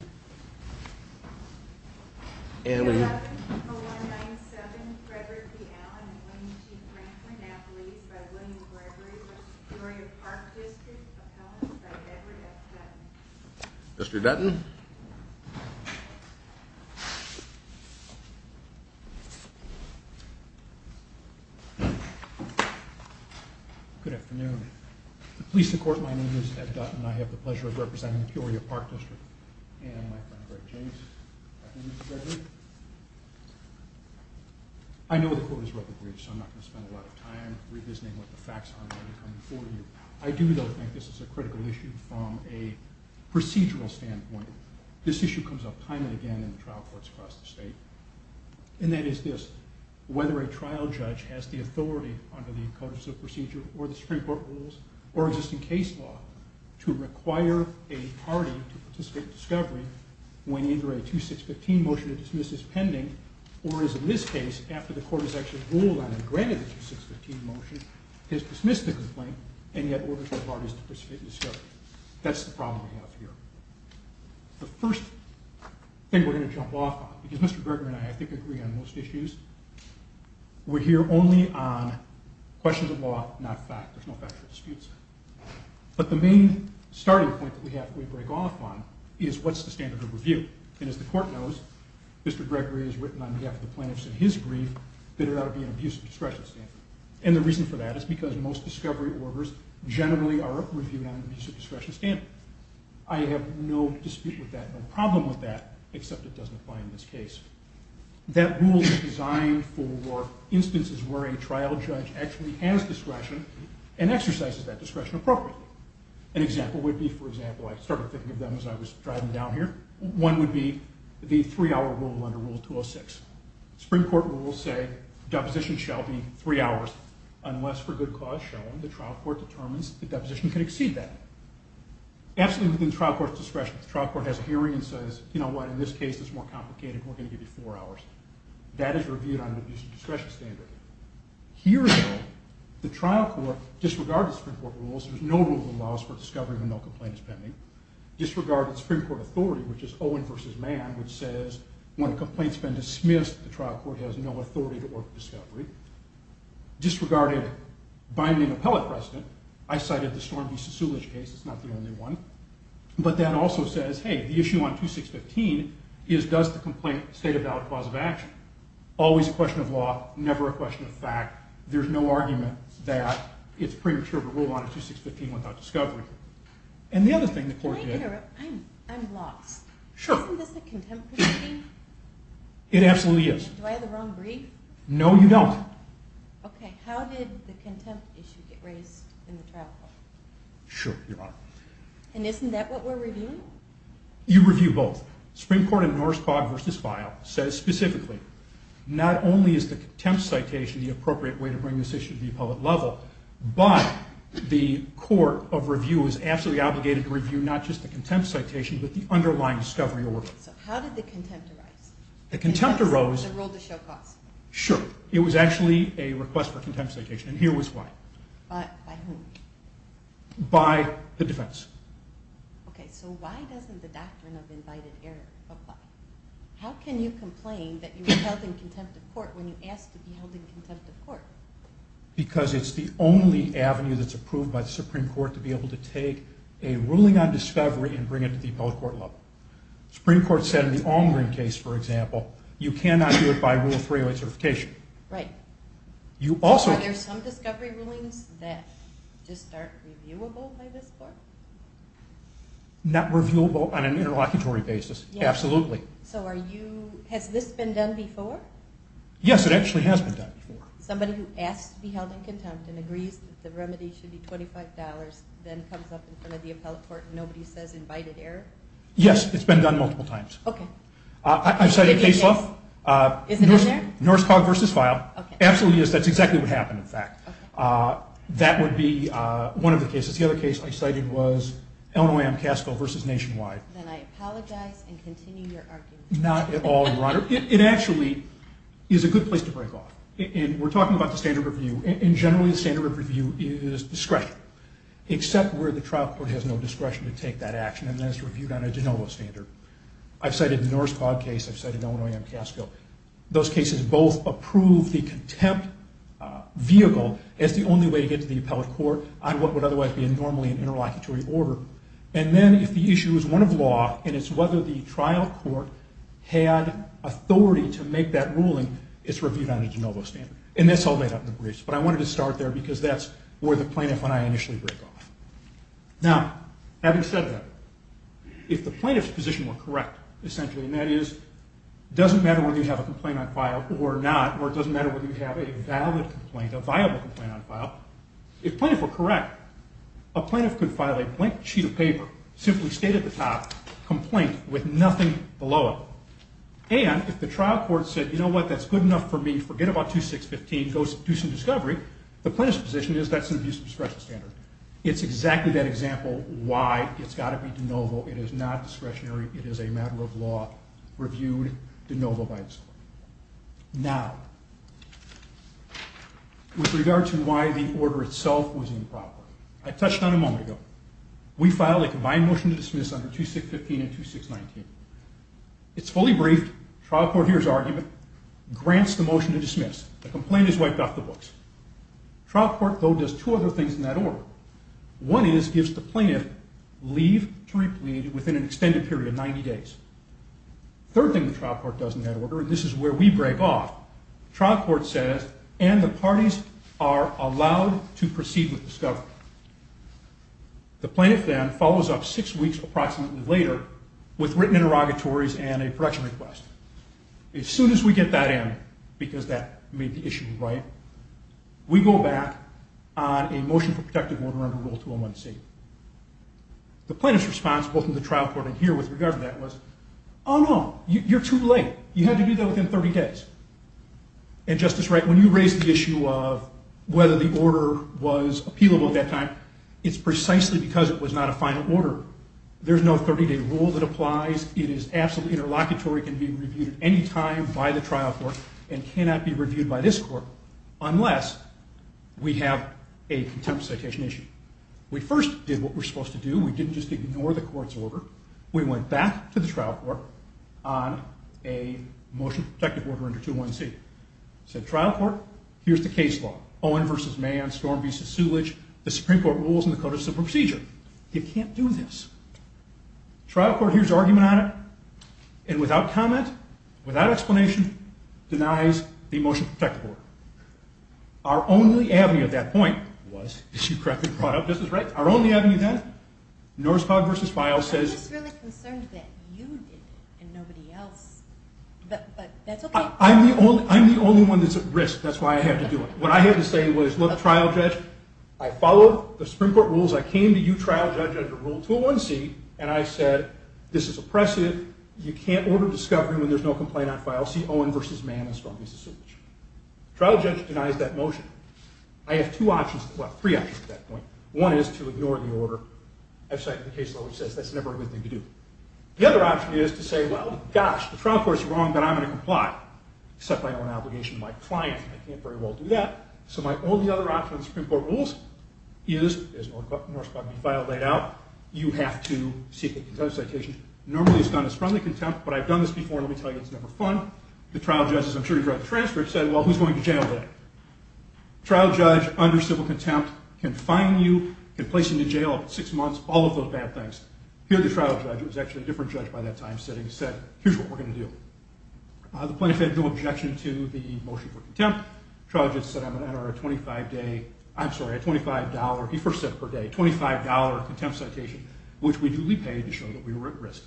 Appellant by Edward F. Dutton. Mr. Dutton. Good afternoon. Pleased to court, my name is Ed Dutton and I have the pleasure of representing Peoria Park District. And my friend Greg James. Good afternoon, Mr. Gregory. I know the court is ruggedly, so I'm not going to spend a lot of time revisiting what the facts are going to come before you. I do, though, think this is a critical issue from a procedural standpoint. This issue comes up time and again in trial courts across the state. And that is this, whether a trial judge has the authority under the codices of procedure or the Supreme Court rules or existing case law to require a party to participate in discovery when either a 2615 motion to dismiss is pending or is in this case, after the court has actually ruled on and granted the 2615 motion, has dismissed the complaint and yet orders the parties to participate in discovery. That's the problem we have here. The first thing we're going to jump off on, because Mr. Gregory and I, I think, agree on most issues, we're here only on questions of law, not fact. There's no factual disputes. But the main starting point that we have to break off on is what's the standard of review? And as the court knows, Mr. Gregory has written on behalf of the plaintiffs in his brief that it ought to be an abuse of discretion standard. And the reason for that is because most discovery orders generally are reviewed on an abuse of discretion standard. I have no dispute with that, no problem with that, except it doesn't apply in this case. That rule is designed for instances where a trial judge actually has discretion and exercises that discretion appropriately. An example would be, for example, I started thinking of them as I was driving down here, one would be the three-hour rule under Rule 206. Supreme Court rules say deposition shall be three hours unless for good cause shown, the trial court determines the deposition can exceed that. Absolutely within the trial court's discretion. If the trial court has a hearing and says, you know what, in this case it's more complicated, we're going to give you four hours, that is reviewed on an abuse of discretion standard. Here, though, the trial court disregarded Supreme Court rules. There's no rule that allows for discovery when no complaint is pending. Disregarded Supreme Court authority, which is Owen v. Mann, which says when a complaint's been dismissed, the trial court has no authority to order discovery. Disregarded binding appellate precedent. I cited the Storm v. Susulich case, it's not the only one. But that also says, hey, the issue on 2615 is does the complaint state a valid cause of action? Always a question of law, never a question of fact. There's no argument that it's premature to rule on 2615 without discovery. And the other thing the court did... Can I interrupt? I'm lost. Sure. Isn't this a contempt proceeding? It absolutely is. Do I have the wrong brief? No, you don't. Okay, how did the contempt issue get raised in the trial court? Sure, Your Honor. And isn't that what we're reviewing? You review both. Supreme Court in Norris Cogg v. Feil says specifically, not only is the contempt citation the appropriate way to bring this issue to the appellate level, but the court of review is absolutely obligated to review not just the contempt citation, but the underlying discovery order. So how did the contempt arise? The contempt arose... Sure. It was actually a request for contempt citation, and here was why. By whom? By the defense. Okay, so why doesn't the doctrine of invited error apply? How can you complain that you were held in contempt of court when you asked to be held in contempt of court? Because it's the only avenue that's approved by the Supreme Court to be able to take a ruling on discovery and bring it to the appellate court level. The Supreme Court said in the Almgren case, for example, you cannot do it by rule of freeway certification. Right. Are there some discovery rulings that just aren't reviewable by this court? Not reviewable on an interlocutory basis, absolutely. So has this been done before? Yes, it actually has been done before. Somebody who asks to be held in contempt and agrees that the remedy should be $25 then comes up in front of the appellate court and nobody says invited error? Yes, it's been done multiple times. Okay. I've cited case law. Is it in there? Norse Cog versus file. Absolutely, yes, that's exactly what happened, in fact. That would be one of the cases. The other case I cited was Illinois-Amcasco versus Nationwide. Then I apologize and continue your argument. Not at all, Your Honor. It actually is a good place to break off. We're talking about the standard of review, and generally the standard of review is discretion, except where the trial court has no discretion to take that action and then it's reviewed on a de novo standard. I've cited the Norse Cog case. I've cited Illinois-Amcasco. Those cases both approve the contempt vehicle as the only way to get to the appellate court on what would otherwise be normally an interlocutory order. And then if the issue is one of law and it's whether the trial court had authority to make that ruling, it's reviewed on a de novo standard. And that's all made up in the briefs, but I wanted to start there because that's where the plaintiff and I initially break off. Now, having said that, if the plaintiff's position were correct, essentially, and that is it doesn't matter whether you have a complaint on file or not, or it doesn't matter whether you have a valid complaint, a viable complaint on file, if plaintiff were correct, a plaintiff could file a blank sheet of paper, simply state at the top, complaint, with nothing below it. And if the trial court said, you know what, that's good enough for me, forget about 2615, do some discovery, the plaintiff's position is that's an abuse of discretion standard. It's exactly that example why it's got to be de novo. It is not discretionary. It is a matter of law reviewed de novo by this court. Now, with regard to why the order itself was improper, I touched on it a moment ago. We filed a combined motion to dismiss under 2615 and 2619. It's fully briefed. Trial court hears argument, grants the motion to dismiss. The complaint is wiped off the books. Trial court, though, does two other things in that order. One is gives the plaintiff leave to replead within an extended period, 90 days. Third thing the trial court does in that order, and this is where we break off, trial court says, and the parties are allowed to proceed with discovery. The plaintiff then follows up six weeks approximately later with written interrogatories and a production request. As soon as we get that in, because that made the issue right, we go back on a motion for protective order under Rule 201C. The plaintiff's response, both in the trial court and here with regard to that, was, oh, no, you're too late. You have to do that within 30 days. And Justice Wright, when you raise the issue of whether the order was appealable at that time, it's precisely because it was not a final order. There's no 30-day rule that applies. It is absolutely interlocutory. It can be reviewed at any time by the trial court and cannot be reviewed by this court unless we have a contempt of citation issue. We first did what we're supposed to do. We didn't just ignore the court's order. We went back to the trial court on a motion for protective order under 201C. Said, trial court, here's the case law, Owen v. Mann, Storm v. Sulich, the Supreme Court rules and the Code of Civil Procedure. You can't do this. Trial court hears argument on it and without comment, without explanation, denies the motion for protective order. Our only avenue at that point was, if you correctly brought up Justice Wright, our only avenue then, Norskog v. Feil says. I'm just really concerned that you did it and nobody else, but that's okay. I'm the only one that's at risk. That's why I had to do it. What I had to say was, look, trial judge, I follow the Supreme Court rules. I came to you, trial judge, under Rule 201C, and I said, this is oppressive. You can't order discovery when there's no complaint on file. See Owen v. Mann and Storm v. Sulich. Trial judge denies that motion. I have two options, well, three options at that point. One is to ignore the order. I've cited the case law which says that's never a good thing to do. The other option is to say, well, gosh, the trial court's wrong, but I'm going to comply, except I owe an obligation to my client. I can't very well do that. So my only other option under the Supreme Court rules is, as North Park v. Feil laid out, you have to seek a contempt citation. Normally it's done as friendly contempt, but I've done this before, and let me tell you, it's never fun. The trial judge, as I'm sure you've read the transcript, said, well, who's going to jail then? Trial judge under civil contempt can fine you, can place you in jail up to six months, all of those bad things. Here the trial judge, who was actually a different judge by that time, said, here's what we're going to do. The plaintiff had no objection to the motion for contempt. Trial judge said I'm going to enter a $25, he first said per day, $25 contempt citation, which we duly paid to show that we were at risk.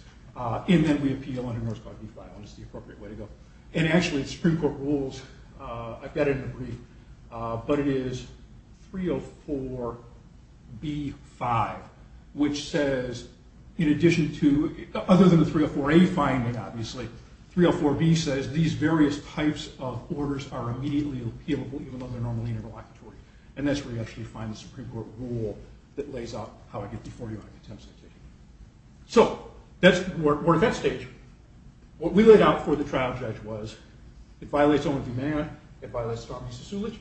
And then we appeal under North Park v. Feil, and it's the appropriate way to go. And actually, the Supreme Court rules, I've got it in a brief, but it is 304B-5, which says, in addition to, other than the 304A finding, obviously, 304B says these various types of orders are immediately appealable, even though they're normally interlocutory. And that's where you actually find the Supreme Court rule that lays out how to get deformity on a contempt citation. So we're at that stage. What we laid out for the trial judge was, it violates Oman v. Mayer, it violates Starbreeze v. Sulich.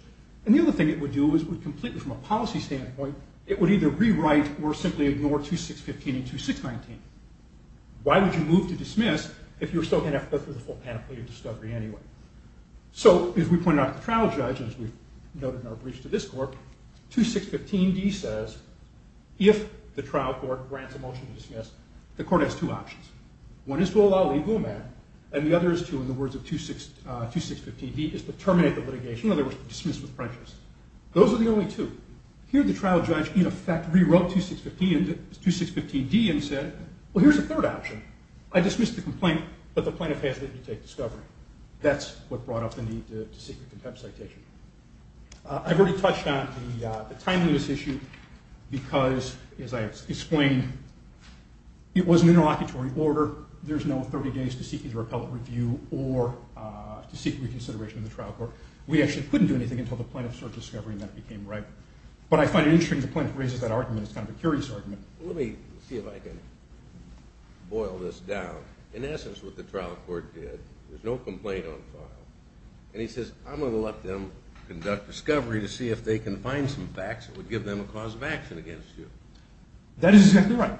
And the other thing it would do is, completely from a policy standpoint, it would either rewrite or simply ignore 2615 and 2619. Why would you move to dismiss if you were still going to have to go through the full panoply of discovery anyway? So, as we pointed out to the trial judge, and as we noted in our briefs to this court, 2615D says, if the trial court grants a motion to dismiss, the court has two options. One is to allow Lee Booman, and the other is to, in the words of 2615D, is to terminate the litigation, in other words, to dismiss with prejudice. Those are the only two. Here, the trial judge, in effect, rewrote 2615D and said, well, here's a third option. I dismiss the complaint, but the plaintiff has to take discovery. That's what brought up the need to seek a contempt citation. I've already touched on the timeliness issue because, as I explained, it was an interlocutory order. There's no 30 days to seek either appellate review or to seek reconsideration in the trial court. We actually couldn't do anything until the plaintiff started discovering that it became right. But I find it interesting the plaintiff raises that argument. It's kind of a curious argument. Let me see if I can boil this down. In essence, what the trial court did, there's no complaint on file. And he says, I'm going to let them conduct discovery to see if they can find some facts that would give them a cause of action against you. That is exactly right.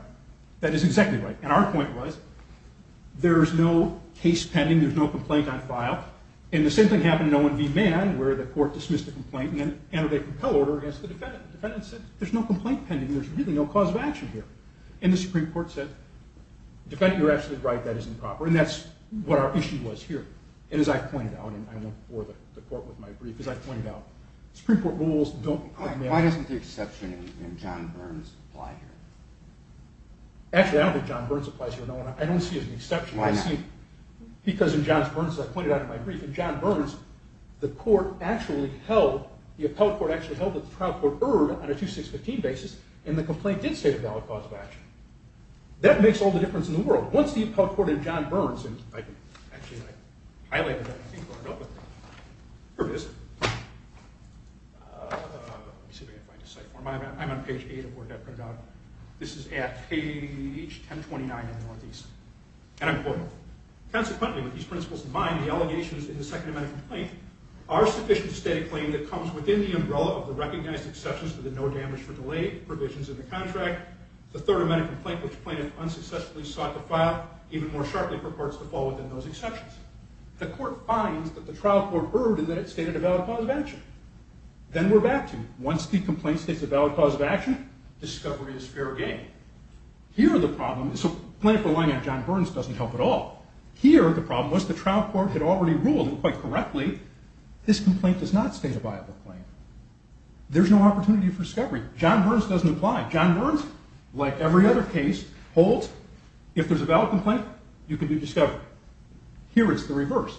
That is exactly right. And our point was, there's no case pending. There's no complaint on file. And the same thing happened in Owen v. Mann, where the court dismissed the complaint and ended a compel order against the defendant. The defendant said, there's no complaint pending. There's really no cause of action here. And the Supreme Court said, defendant, you're absolutely right. That is improper. And that's what our issue was here. And as I pointed out, and I went before the court with my brief, as I pointed out, Supreme Court rules don't apply. Why doesn't the exception in John Burns apply here? I don't see it as an exception. Why not? Because in John Burns, as I pointed out in my brief, in John Burns, the court actually held, the appellate court actually held that the trial court erred on a 2-6-15 basis. And the complaint did state a valid cause of action. That makes all the difference in the world. Once the appellate court in John Burns, and actually I highlighted that I think on a note, but here it is. I'm on page 8 of the work I printed out. This is at page 1029 in the Northeast. And I'm quoting. Consequently, with these principles in mind, the allegations in the Second Amendment complaint are sufficient to state a claim that comes within the umbrella of the recognized exceptions to the no damage for delay provisions in the contract. The Third Amendment complaint, which plaintiff unsuccessfully sought to file, even more sharply purports to fall within those exceptions. The court finds that the trial court erred in that it stated a valid cause of action. Then we're back to, once the complaint states a valid cause of action, discovery is fair game. Here the problem, so plaintiff relying on John Burns doesn't help at all. Here the problem was the trial court had already ruled, and quite correctly, this complaint does not state a viable claim. There's no opportunity for discovery. John Burns doesn't apply. John Burns, like every other case, holds. If there's a valid complaint, you can do discovery. Here it's the reverse.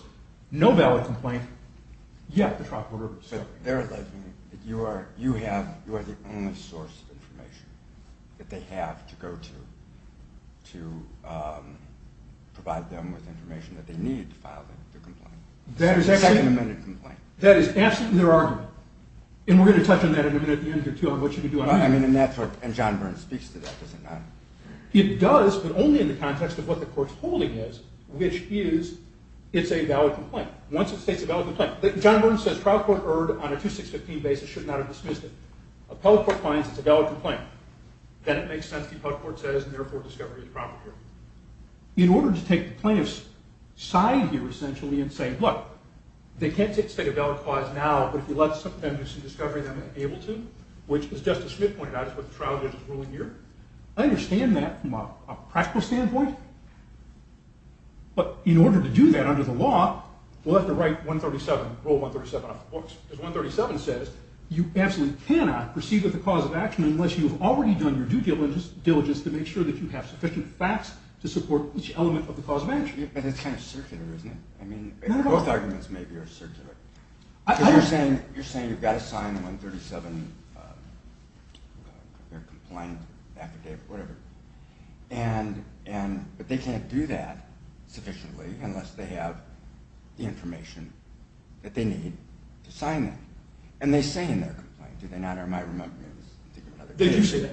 No valid complaint, yet the trial court errs. So they're alleging that you are the only source of information that they have to go to to provide them with information that they need to file the complaint. That is absolutely their argument. And we're going to touch on that in a minute at the end, too, on what you can do. And John Burns speaks to that, does he not? He does, but only in the context of what the court's holding is, which is it's a valid complaint. Once it states a valid complaint. John Burns says trial court erred on a 2-6-15 basis, should not have dismissed it. Appellate court finds it's a valid complaint. Then it makes sense, the appellate court says, and therefore discovery is proper here. In order to take the plaintiff's side here, essentially, and say, look, they can't take a valid clause now, but if you let them do some discovery, they may be able to, which, as Justice Smith pointed out, is what the trial judge is ruling here. I understand that from a practical standpoint. But in order to do that under the law, we'll have to write 137, rule 137 off the books. Because 137 says you absolutely cannot proceed with the cause of action unless you have already done your due diligence to make sure that you have sufficient facts to support each element of the cause of action. And it's kind of circular, isn't it? I mean, both arguments maybe are circular. Because you're saying you've got to sign 137, their complaint affidavit, whatever. But they can't do that sufficiently unless they have the information that they need to sign that. And they say in their complaint, do they not? Or am I removing it?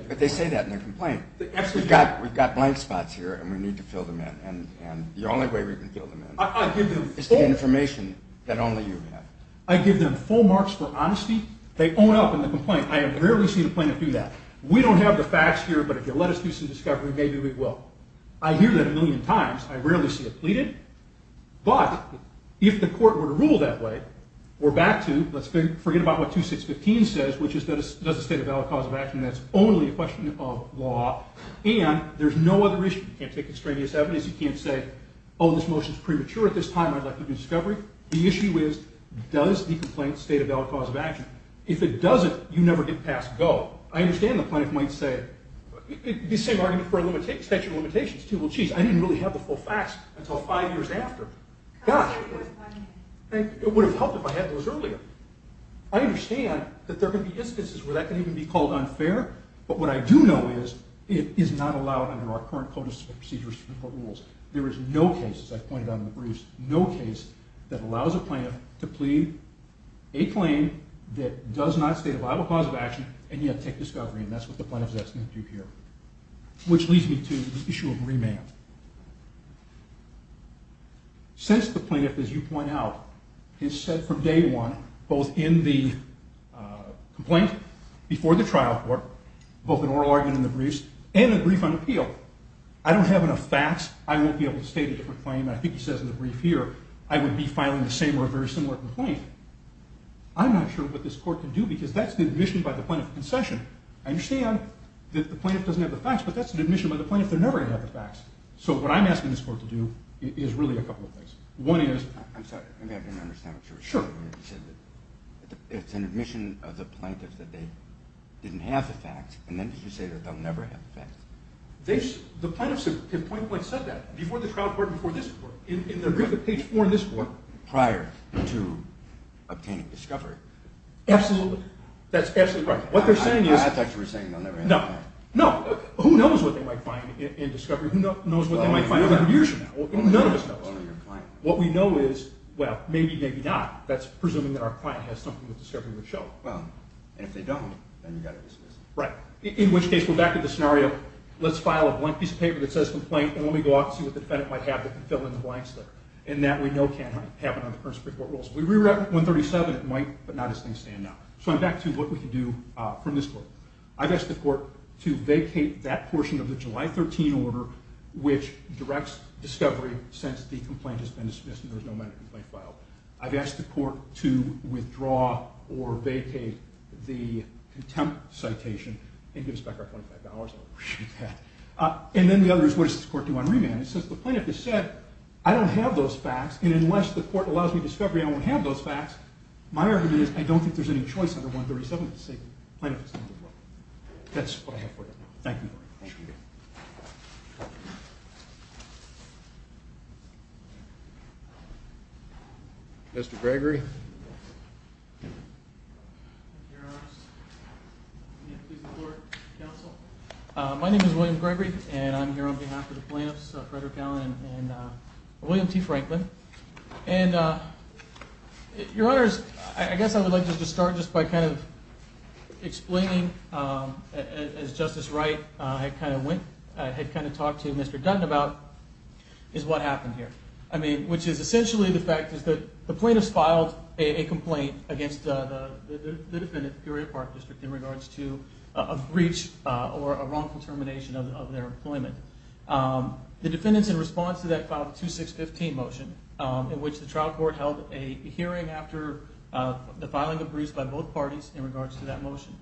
But they say that in their complaint. We've got blank spots here, and we need to fill them in. And the only way we can fill them in is the information that only you have. I give them full marks for honesty. They own up in the complaint. I have rarely seen a plaintiff do that. We don't have the facts here, but if you'll let us do some discovery, maybe we will. I hear that a million times. I rarely see it pleaded. But if the court were to rule that way, we're back to, let's forget about what 2615 says, which is does the state of the law have a cause of action? That's only a question of law. And there's no other issue. You can't take extraneous evidence. You can't say, oh, this motion's premature at this time. I'd like to do discovery. The issue is does the complaint state a valid cause of action? If it doesn't, you never get past go. I understand the plaintiff might say, the same argument for extension of limitations, too. Well, jeez, I didn't really have the full facts until five years after. Gosh, it would have helped if I had those earlier. I understand that there can be instances where that can even be called unfair. But what I do know is it is not allowed under our current code of procedures for the court rules. There is no case, as I pointed out in the briefs, there is no case that allows a plaintiff to plead a claim that does not state a valid cause of action and yet take discovery. And that's what the plaintiff is asking to do here, which leads me to the issue of remand. Since the plaintiff, as you point out, has said from day one, both in the complaint before the trial court, both in oral argument in the briefs, and in the brief on appeal, I don't have enough facts. I won't be able to state a different claim. I think he says in the brief here I would be filing the same or a very similar complaint. I'm not sure what this court can do because that's the admission by the plaintiff of concession. I understand that the plaintiff doesn't have the facts, but that's an admission by the plaintiff they're never going to have the facts. So what I'm asking this court to do is really a couple of things. One is – I'm sorry, maybe I didn't understand what you were saying. Sure. You said it's an admission of the plaintiff that they didn't have the facts, and then did you say that they'll never have the facts? The plaintiff said that. Before the trial court, before this court, in the brief at page 4 in this court. Prior to obtaining discovery. Absolutely. That's absolutely right. What they're saying is – I thought you were saying they'll never have the facts. No. No. Who knows what they might find in discovery? Who knows what they might find 100 years from now? None of us knows. Only your client. What we know is, well, maybe, maybe not. That's presuming that our client has something that discovery would show. Well, and if they don't, then you've got to dismiss it. Right. In which case, we're back to the scenario. Let's file a blank piece of paper that says complaint, and then we go out and see what the defendant might have to fill in the blanks there. And that, we know, can't happen under current Supreme Court rules. If we were at 137, it might, but not as things stand now. So I'm back to what we can do from this court. I've asked the court to vacate that portion of the July 13 order, which directs discovery since the complaint has been dismissed and there's no minor complaint filed. I've asked the court to withdraw or vacate the contempt citation and give us back our $25. And then the other is, what does this court do on remand? Since the plaintiff has said, I don't have those facts, and unless the court allows me discovery, I won't have those facts, my argument is, I don't think there's any choice under 137 to say the plaintiff has done what they want. That's what I have for you. Thank you. Thank you. Mr. Gregory? My name is William Gregory, and I'm here on behalf of the plaintiffs, Frederick Allen and William T. Franklin. And, Your Honors, I guess I would like to just start just by kind of explaining, as Justice Wright had kind of talked to Mr. Dutton about, is what happened here. I mean, which is essentially the fact is that the plaintiffs filed, a complaint against the defendant, the Peoria Park District, in regards to a breach or a wrongful termination of their employment. The defendants, in response to that, filed a 2615 motion, in which the trial court held a hearing after the filing of breaches by both parties, in regards to that motion.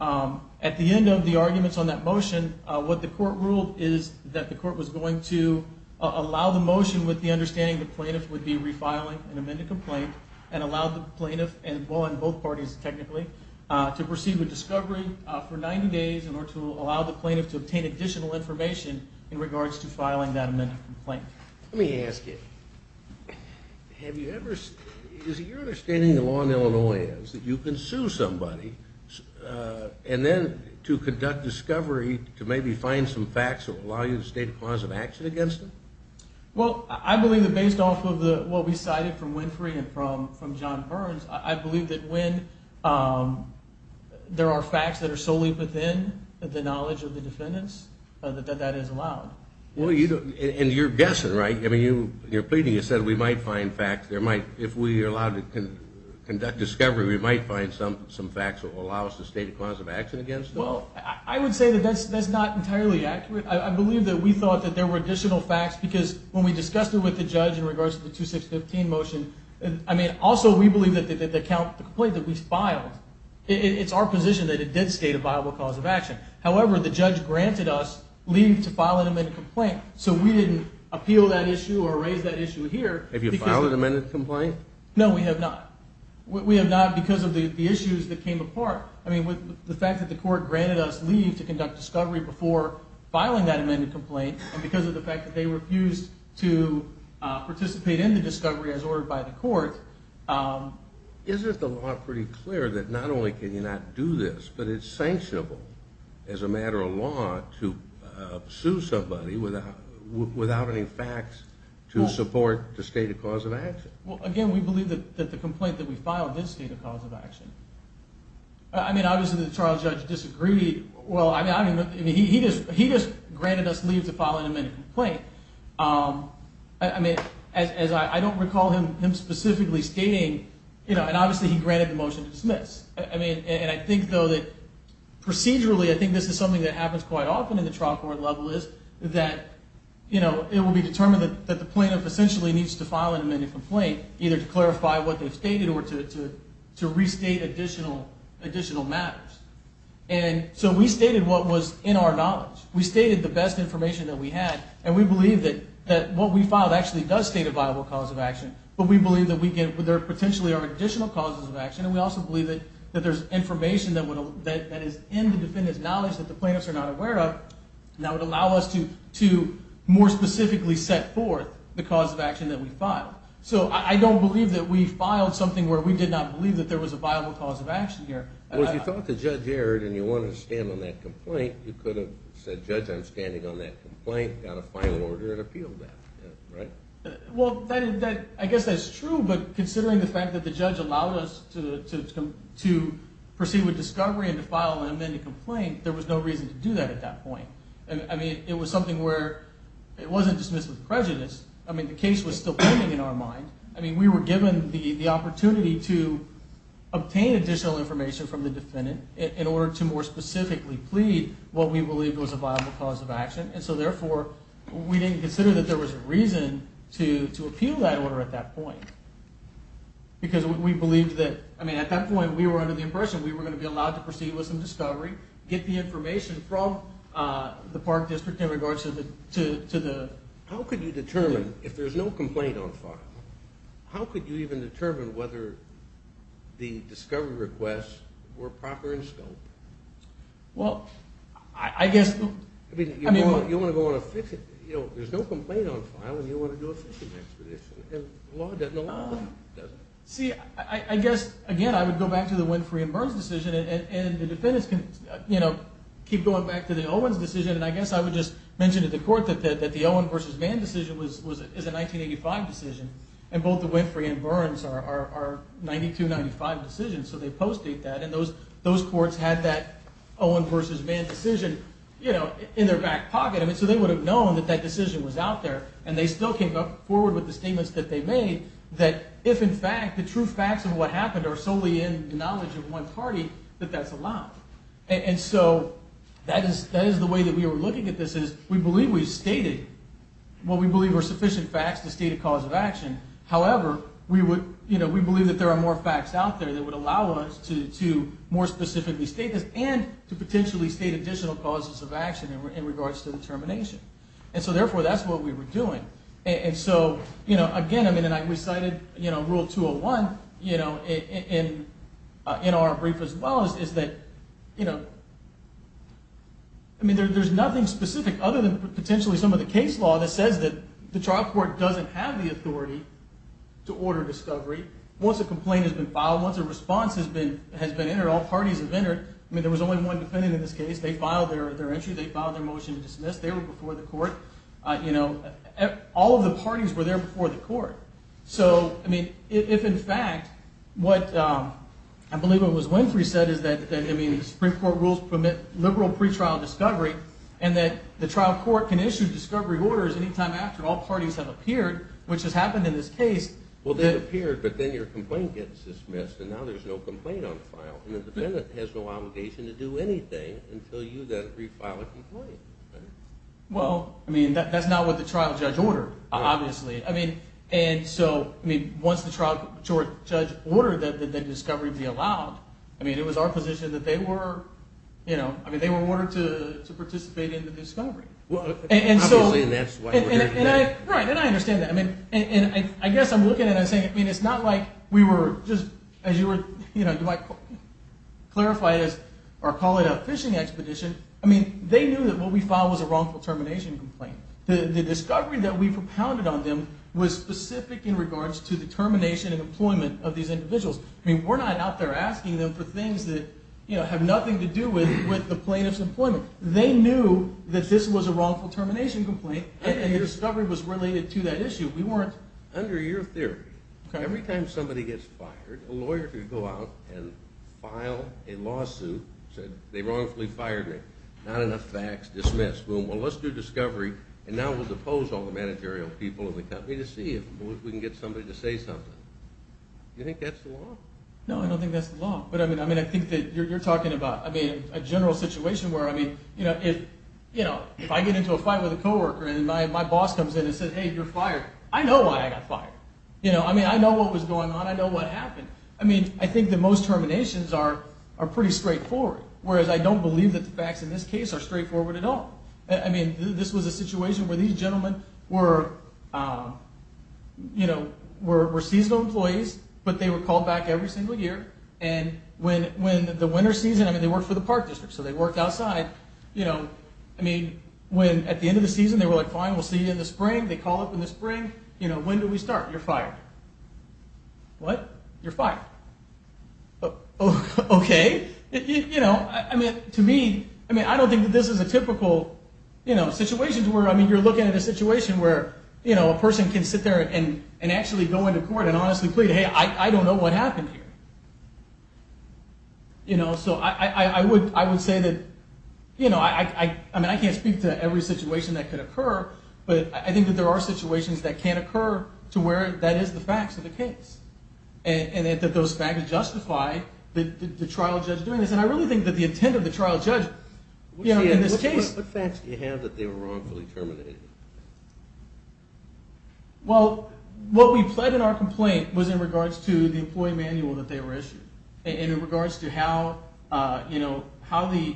At the end of the arguments on that motion, what the court ruled is that the court was going to allow the motion with the understanding the plaintiff would be refiling an amended complaint, and allow the plaintiff, and both parties technically, to proceed with discovery for 90 days, in order to allow the plaintiff to obtain additional information, in regards to filing that amended complaint. Let me ask you, have you ever, is it your understanding the law in Illinois is that you can sue somebody, and then to conduct discovery to maybe find some facts that will allow you to state a cause of action against them? Well, I believe that based off of what we cited from Winfrey and from John Burns, I believe that when there are facts that are solely within the knowledge of the defendants, that that is allowed. And you're guessing, right? I mean, you're pleading, you said we might find facts, if we are allowed to conduct discovery, we might find some facts that will allow us to state a cause of action against them? Well, I would say that that's not entirely accurate. I believe that we thought that there were additional facts, because when we discussed it with the judge in regards to the 2615 motion, I mean, also we believe that the complaint that we filed, it's our position that it did state a viable cause of action. However, the judge granted us leave to file an amended complaint, so we didn't appeal that issue or raise that issue here. Have you filed an amended complaint? No, we have not. We have not because of the issues that came apart. I mean, the fact that the court granted us leave to conduct discovery before filing that amended complaint, and because of the fact that they refused to participate in the discovery as ordered by the court. Isn't the law pretty clear that not only can you not do this, but it's sanctionable as a matter of law to sue somebody without any facts to support the state of cause of action? Well, again, we believe that the complaint that we filed did state a cause of action. I mean, obviously the trial judge disagreed. Well, I mean, he just granted us leave to file an amended complaint. I mean, as I don't recall him specifically stating, you know, and obviously he granted the motion to dismiss. I mean, and I think, though, that procedurally, I think this is something that happens quite often in the trial court level, is that, you know, it will be determined that the plaintiff essentially needs to file an amended complaint, either to clarify what they've stated or to restate additional matters. And so we stated what was in our knowledge. We stated the best information that we had, and we believe that what we filed actually does state a viable cause of action, but we believe that there potentially are additional causes of action, and we also believe that there's information that is in the defendant's knowledge that the plaintiffs are not aware of, and that would allow us to more specifically set forth the cause of action that we filed. So I don't believe that we filed something where we did not believe that there was a viable cause of action here. Well, if you thought the judge erred and you wanted to stand on that complaint, you could have said, Judge, I'm standing on that complaint, got a final order, and appealed that, right? Well, I guess that's true, but considering the fact that the judge allowed us to proceed with discovery and to file an amended complaint, there was no reason to do that at that point. I mean, it was something where it wasn't dismissed with prejudice. I mean, the case was still pending in our mind. I mean, we were given the opportunity to obtain additional information from the defendant in order to more specifically plead what we believed was a viable cause of action, and so therefore we didn't consider that there was a reason to appeal that order at that point because we believed that, I mean, at that point we were under the impression that we were going to be allowed to proceed with some discovery, get the information from the Park District in regards to the... How could you determine, if there's no complaint on file, how could you even determine whether the discovery requests were proper in scope? Well, I guess... I mean, you want to go on a fishing... You know, there's no complaint on file and you want to do a fishing expedition, and the law doesn't allow that, does it? See, I guess, again, I would go back to the Winfrey and Burns decision, and the defendants can, you know, keep going back to the Owens decision, and I guess I would just mention to the court that the Owens v. Vann decision is a 1985 decision, and both the Winfrey and Burns are 92-95 decisions, so they post-date that, and those courts had that Owens v. Vann decision, you know, in their back pocket. I mean, so they would have known that that decision was out there, and they still came forward with the statements that they made that if, in fact, the true facts of what happened are solely in the knowledge of one party, that that's allowed. And so that is the way that we are looking at this, is we believe we've stated what we believe are sufficient facts to state a cause of action. However, we would, you know, we believe that there are more facts out there that would allow us to more specifically state this and to potentially state additional causes of action in regards to the termination. And so, therefore, that's what we were doing. And so, you know, again, I mean, and I recited, you know, Rule 201, you know, in our brief as well, is that, you know, I mean, there's nothing specific other than potentially some of the case law that says that the trial court doesn't have the authority to order discovery once a complaint has been filed, once a response has been entered, all parties have entered. I mean, there was only one defendant in this case. They filed their entry. They filed their motion to dismiss. They were before the court. You know, all of the parties were there before the court. So, I mean, if in fact what I believe it was Winfrey said is that, I mean, the Supreme Court rules permit liberal pretrial discovery and that the trial court can issue discovery orders any time after all parties have appeared, which has happened in this case. Well, they've appeared, but then your complaint gets dismissed, and now there's no complaint on file. And the defendant has no obligation to do anything until you then refile a complaint. Well, I mean, that's not what the trial judge ordered, obviously. I mean, and so, I mean, once the trial judge ordered that the discovery be allowed, I mean, it was our position that they were, you know, I mean, they were ordered to participate in the discovery. Obviously, and that's why we're here. Right, and I understand that. I mean, and I guess I'm looking at it and saying, I mean, it's not like we were just, as you were, you know, you might clarify this or call it a fishing expedition. I mean, they knew that what we filed was a wrongful termination complaint. The discovery that we propounded on them was specific in regards to the termination and employment of these individuals. I mean, we're not out there asking them for things that, you know, have nothing to do with the plaintiff's employment. They knew that this was a wrongful termination complaint, and the discovery was related to that issue. We weren't. Under your theory, every time somebody gets fired, a lawyer could go out and file a lawsuit, say they wrongfully fired me, not enough facts, dismiss, boom, well, let's do discovery, and now we'll depose all the managerial people in the company to see if we can get somebody to say something. Do you think that's the law? No, I don't think that's the law. But, I mean, I think that you're talking about, I mean, a general situation where, I mean, you know, if I get into a fight with a co-worker and my boss comes in and says, hey, you're fired, I know why I got fired. You know, I mean, I know what was going on. I know what happened. I mean, I think that most terminations are pretty straightforward, whereas I don't believe that the facts in this case are straightforward at all. I mean, this was a situation where these gentlemen were, you know, were seasonal employees, but they were called back every single year, and when the winter season, I mean, they worked for the park district, so they worked outside, you know, I mean, when at the end of the season, they were like, fine, we'll see you in the spring. They call up in the spring. You know, when do we start? You're fired. What? You're fired. Okay. You know, I mean, to me, I mean, I don't think that this is a typical, you know, situation to where, I mean, you're looking at a situation where, you know, a person can sit there and actually go into court and honestly plead, hey, I don't know what happened here. You know, so I would say that, you know, I mean, I can't speak to every situation that could occur, but I think that there are situations that can occur to where that is the facts of the case and that those facts justify the trial judge doing this, and I really think that the intent of the trial judge, you know, in this case. What facts do you have that they were wrongfully terminated? Well, what we pled in our complaint was in regards to the employee manual that they were issued and in regards to how, you know, how the,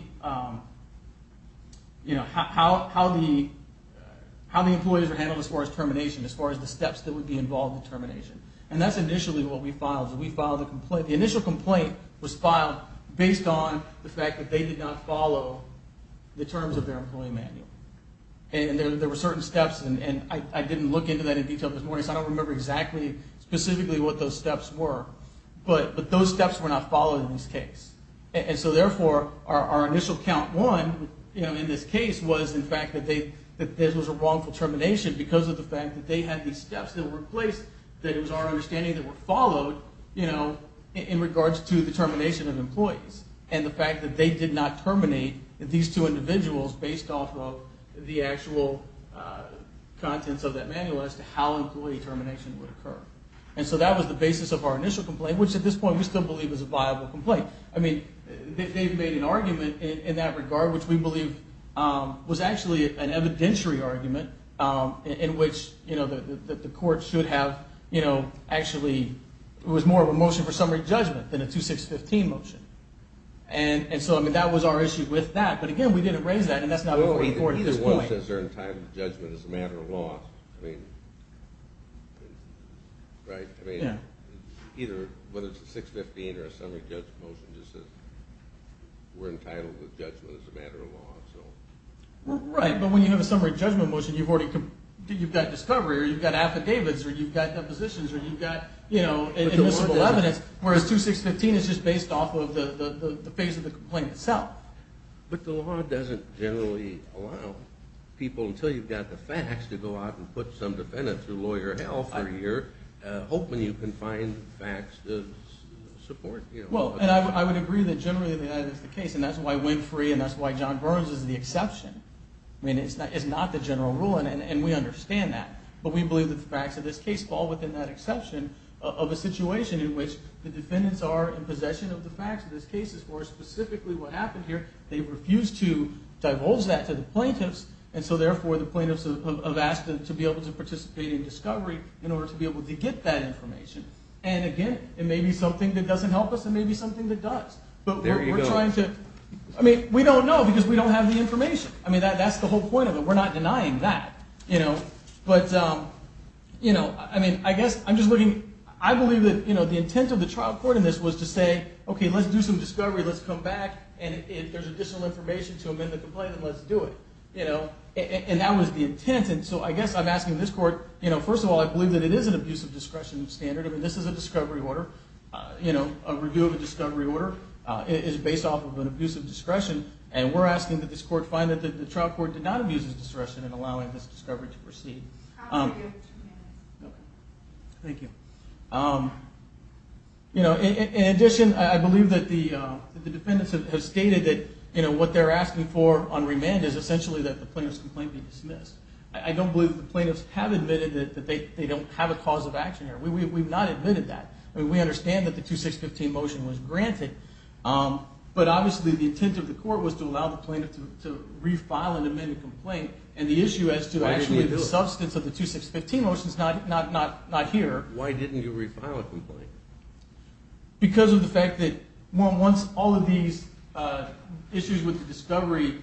you know, how the employees were handled as far as termination, as far as the steps that would be involved in termination, and that's initially what we filed. We filed a complaint. The initial complaint was filed based on the fact that they did not follow the terms of their employee manual, and there were certain steps, and I didn't look into that in detail this morning, because I don't remember exactly specifically what those steps were, but those steps were not followed in this case, and so therefore our initial count one, you know, in this case, was in fact that there was a wrongful termination because of the fact that they had these steps that were placed that it was our understanding that were followed, you know, in regards to the termination of employees and the fact that they did not terminate these two individuals based off of the actual contents of that manual as to how employee termination would occur, and so that was the basis of our initial complaint, which at this point we still believe is a viable complaint. I mean, they've made an argument in that regard, which we believe was actually an evidentiary argument in which, you know, the court should have, you know, actually it was more of a motion for summary judgment than a 2615 motion, and so, I mean, that was our issue with that, but again, we didn't raise that and that's not what we're looking for at this point. Well, either one says they're entitled to judgment as a matter of law. I mean, right? Yeah. I mean, either whether it's a 615 or a summary judgment motion just says we're entitled to judgment as a matter of law, so. Right, but when you have a summary judgment motion, you've already got discovery or you've got affidavits or you've got depositions or you've got, you know, admissible evidence, whereas 2615 is just based off of the phase of the complaint itself. But the law doesn't generally allow people until you've got the facts to go out and put some defendant through lawyer hell for a year hoping you can find facts to support, you know. Well, and I would agree that generally that is the case, and that's why Winfrey and that's why John Burns is the exception. I mean, it's not the general rule, and we understand that, but we believe that the facts of this case fall within that exception of a situation in which the defendants are in possession of the facts of this case or specifically what happened here. They refused to divulge that to the plaintiffs, and so therefore the plaintiffs have asked them to be able to participate in discovery in order to be able to get that information. And, again, it may be something that doesn't help us. It may be something that does. There you go. But we're trying to – I mean, we don't know because we don't have the information. I mean, that's the whole point of it. We're not denying that, you know. But the intent of the trial court in this was to say, okay, let's do some discovery, let's come back, and if there's additional information to amend the complaint, then let's do it. And that was the intent, and so I guess I'm asking this court – first of all, I believe that it is an abuse of discretion standard. I mean, this is a discovery order. A review of a discovery order is based off of an abuse of discretion, and we're asking that this court find that the trial court did not abuse its discretion in allowing this discovery to proceed. Thank you. You know, in addition, I believe that the defendants have stated that, you know, what they're asking for on remand is essentially that the plaintiff's complaint be dismissed. I don't believe the plaintiffs have admitted that they don't have a cause of action here. We've not admitted that. I mean, we understand that the 2615 motion was granted, but obviously the intent of the court was to allow the plaintiff to refile an amended complaint, and the issue as to actually the substance of the 2615 motion is not here. Why didn't you refile a complaint? Because of the fact that once all of these issues with the discovery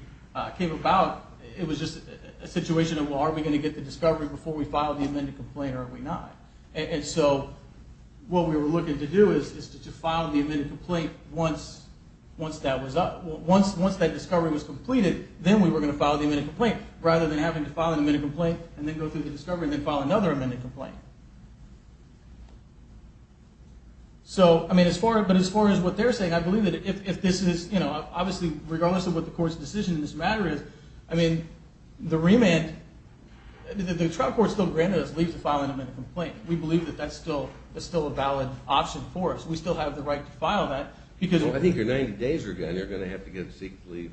came about, it was just a situation of, well, are we going to get the discovery before we file the amended complaint, or are we not? And so what we were looking to do is to file the amended complaint once that was up. Then we were going to file the amended complaint rather than having to file an amended complaint and then go through the discovery and then file another amended complaint. So, I mean, as far as what they're saying, I believe that if this is, you know, obviously regardless of what the court's decision in this matter is, I mean, the remand, the trial court still granted us leave to file an amended complaint. We believe that that's still a valid option for us. We still have the right to file that. I think your 90 days are gone. They're going to have to get a secret leave.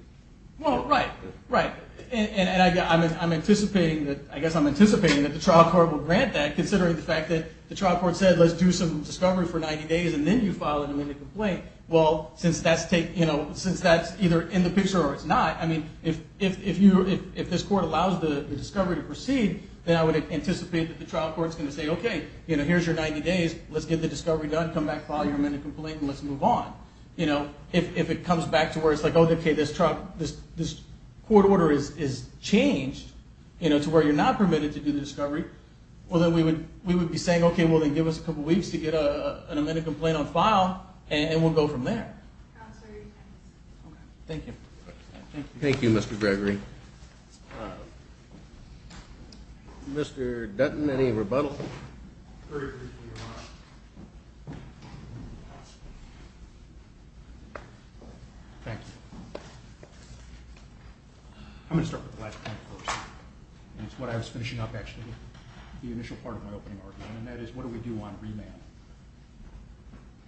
Well, right, right. And I guess I'm anticipating that the trial court will grant that, considering the fact that the trial court said let's do some discovery for 90 days and then you file an amended complaint. Well, since that's either in the picture or it's not, I mean, if this court allows the discovery to proceed, then I would anticipate that the trial court's going to say, okay, here's your 90 days. Let's get the discovery done, come back, file your amended complaint, and let's move on. You know, if it comes back to where it's like, okay, this court order is changed, you know, to where you're not permitted to do the discovery, well then we would be saying, okay, well then give us a couple weeks to get an amended complaint on file and we'll go from there. Thank you. Thank you, Mr. Gregory. Mr. Dutton, any rebuttal? Very briefly, Your Honor. Thank you. I'm going to start with the last point first, and it's what I was finishing up, actually, the initial part of my opening argument, and that is what do we do on remand?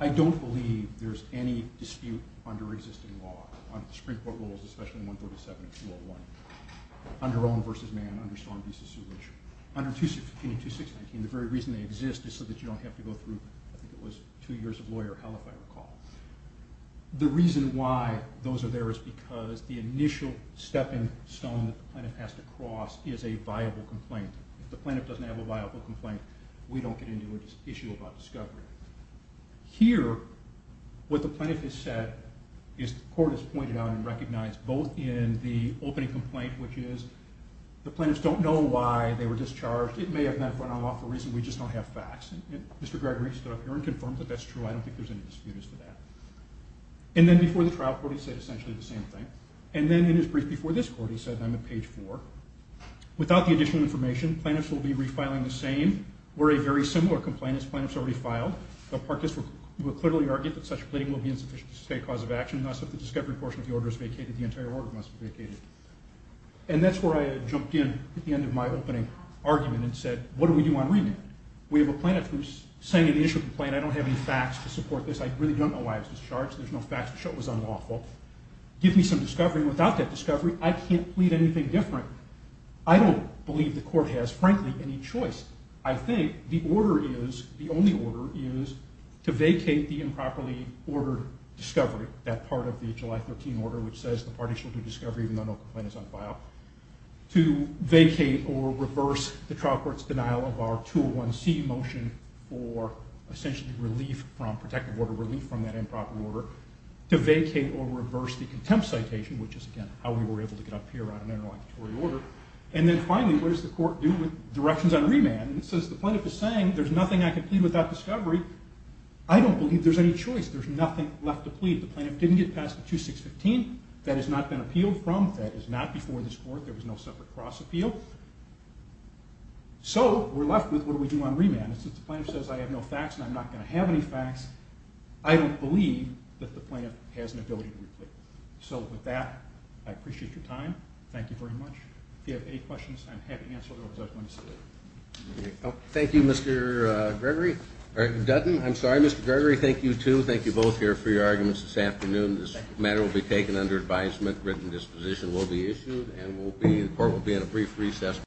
I don't believe there's any dispute under existing law, under the Supreme Court rules, especially in 137 and 201, under Owen v. Mann, under Stone v. Zulich, under 226-19. The very reason they exist is so that you don't have to go through, I think it was, two years of lawyer hell, if I recall. The reason why those are there is because the initial stepping stone that the plaintiff has to cross is a viable complaint. If the plaintiff doesn't have a viable complaint, we don't get into an issue about discovery. Here, what the plaintiff has said is the court has pointed out and recognized, both in the opening complaint, which is the plaintiffs don't know why they were discharged. It may have not been on law for a reason. We just don't have facts. Mr. Gregory stood up here and confirmed that that's true. I don't think there's any dispute as to that. And then before the trial court, he said essentially the same thing. And then in his brief before this court, he said, and I'm at page 4, without the additional information, plaintiffs will be refiling the same or a very similar complaint as plaintiffs already filed. The plaintiffs will clearly argue that such pleading will be insufficient to state a cause of action, unless the discovery portion of the order is vacated, the entire order must be vacated. And that's where I jumped in at the end of my opening argument and said, what do we do on remand? We have a plaintiff who's saying in the initial complaint, I don't have any facts to support this. I really don't know why I was discharged. There's no facts to show it was unlawful. Give me some discovery. Without that discovery, I can't plead anything different. I don't believe the court has, frankly, any choice. I think the order is, the only order is, to vacate the improperly ordered discovery, that part of the July 13 order which says the parties will do discovery even though no complaint is on file. To vacate or reverse the trial court's denial of our 201C motion for essentially relief from, protective order relief from that improper order. To vacate or reverse the contempt citation, which is again, how we were able to get up here on an interlocutory order. And then finally, what does the court do with directions on remand? Since the plaintiff is saying there's nothing I can plead without discovery, I don't believe there's any choice. There's nothing left to plead. The plaintiff didn't get past the 2615. That has not been appealed from. That is not before this court. There was no separate cross appeal. So we're left with, what do we do on remand? And since the plaintiff says I have no facts and I'm not going to have any facts, I don't believe that the plaintiff has an ability to plead. So with that, I appreciate your time. Thank you very much. If you have any questions, I'm happy to answer them. Thank you, Mr. Dutton. I'm sorry, Mr. Gregory. Thank you, too. Thank you both here for your arguments this afternoon. This matter will be taken under advisement, written disposition will be issued, and the court will be in a brief recess.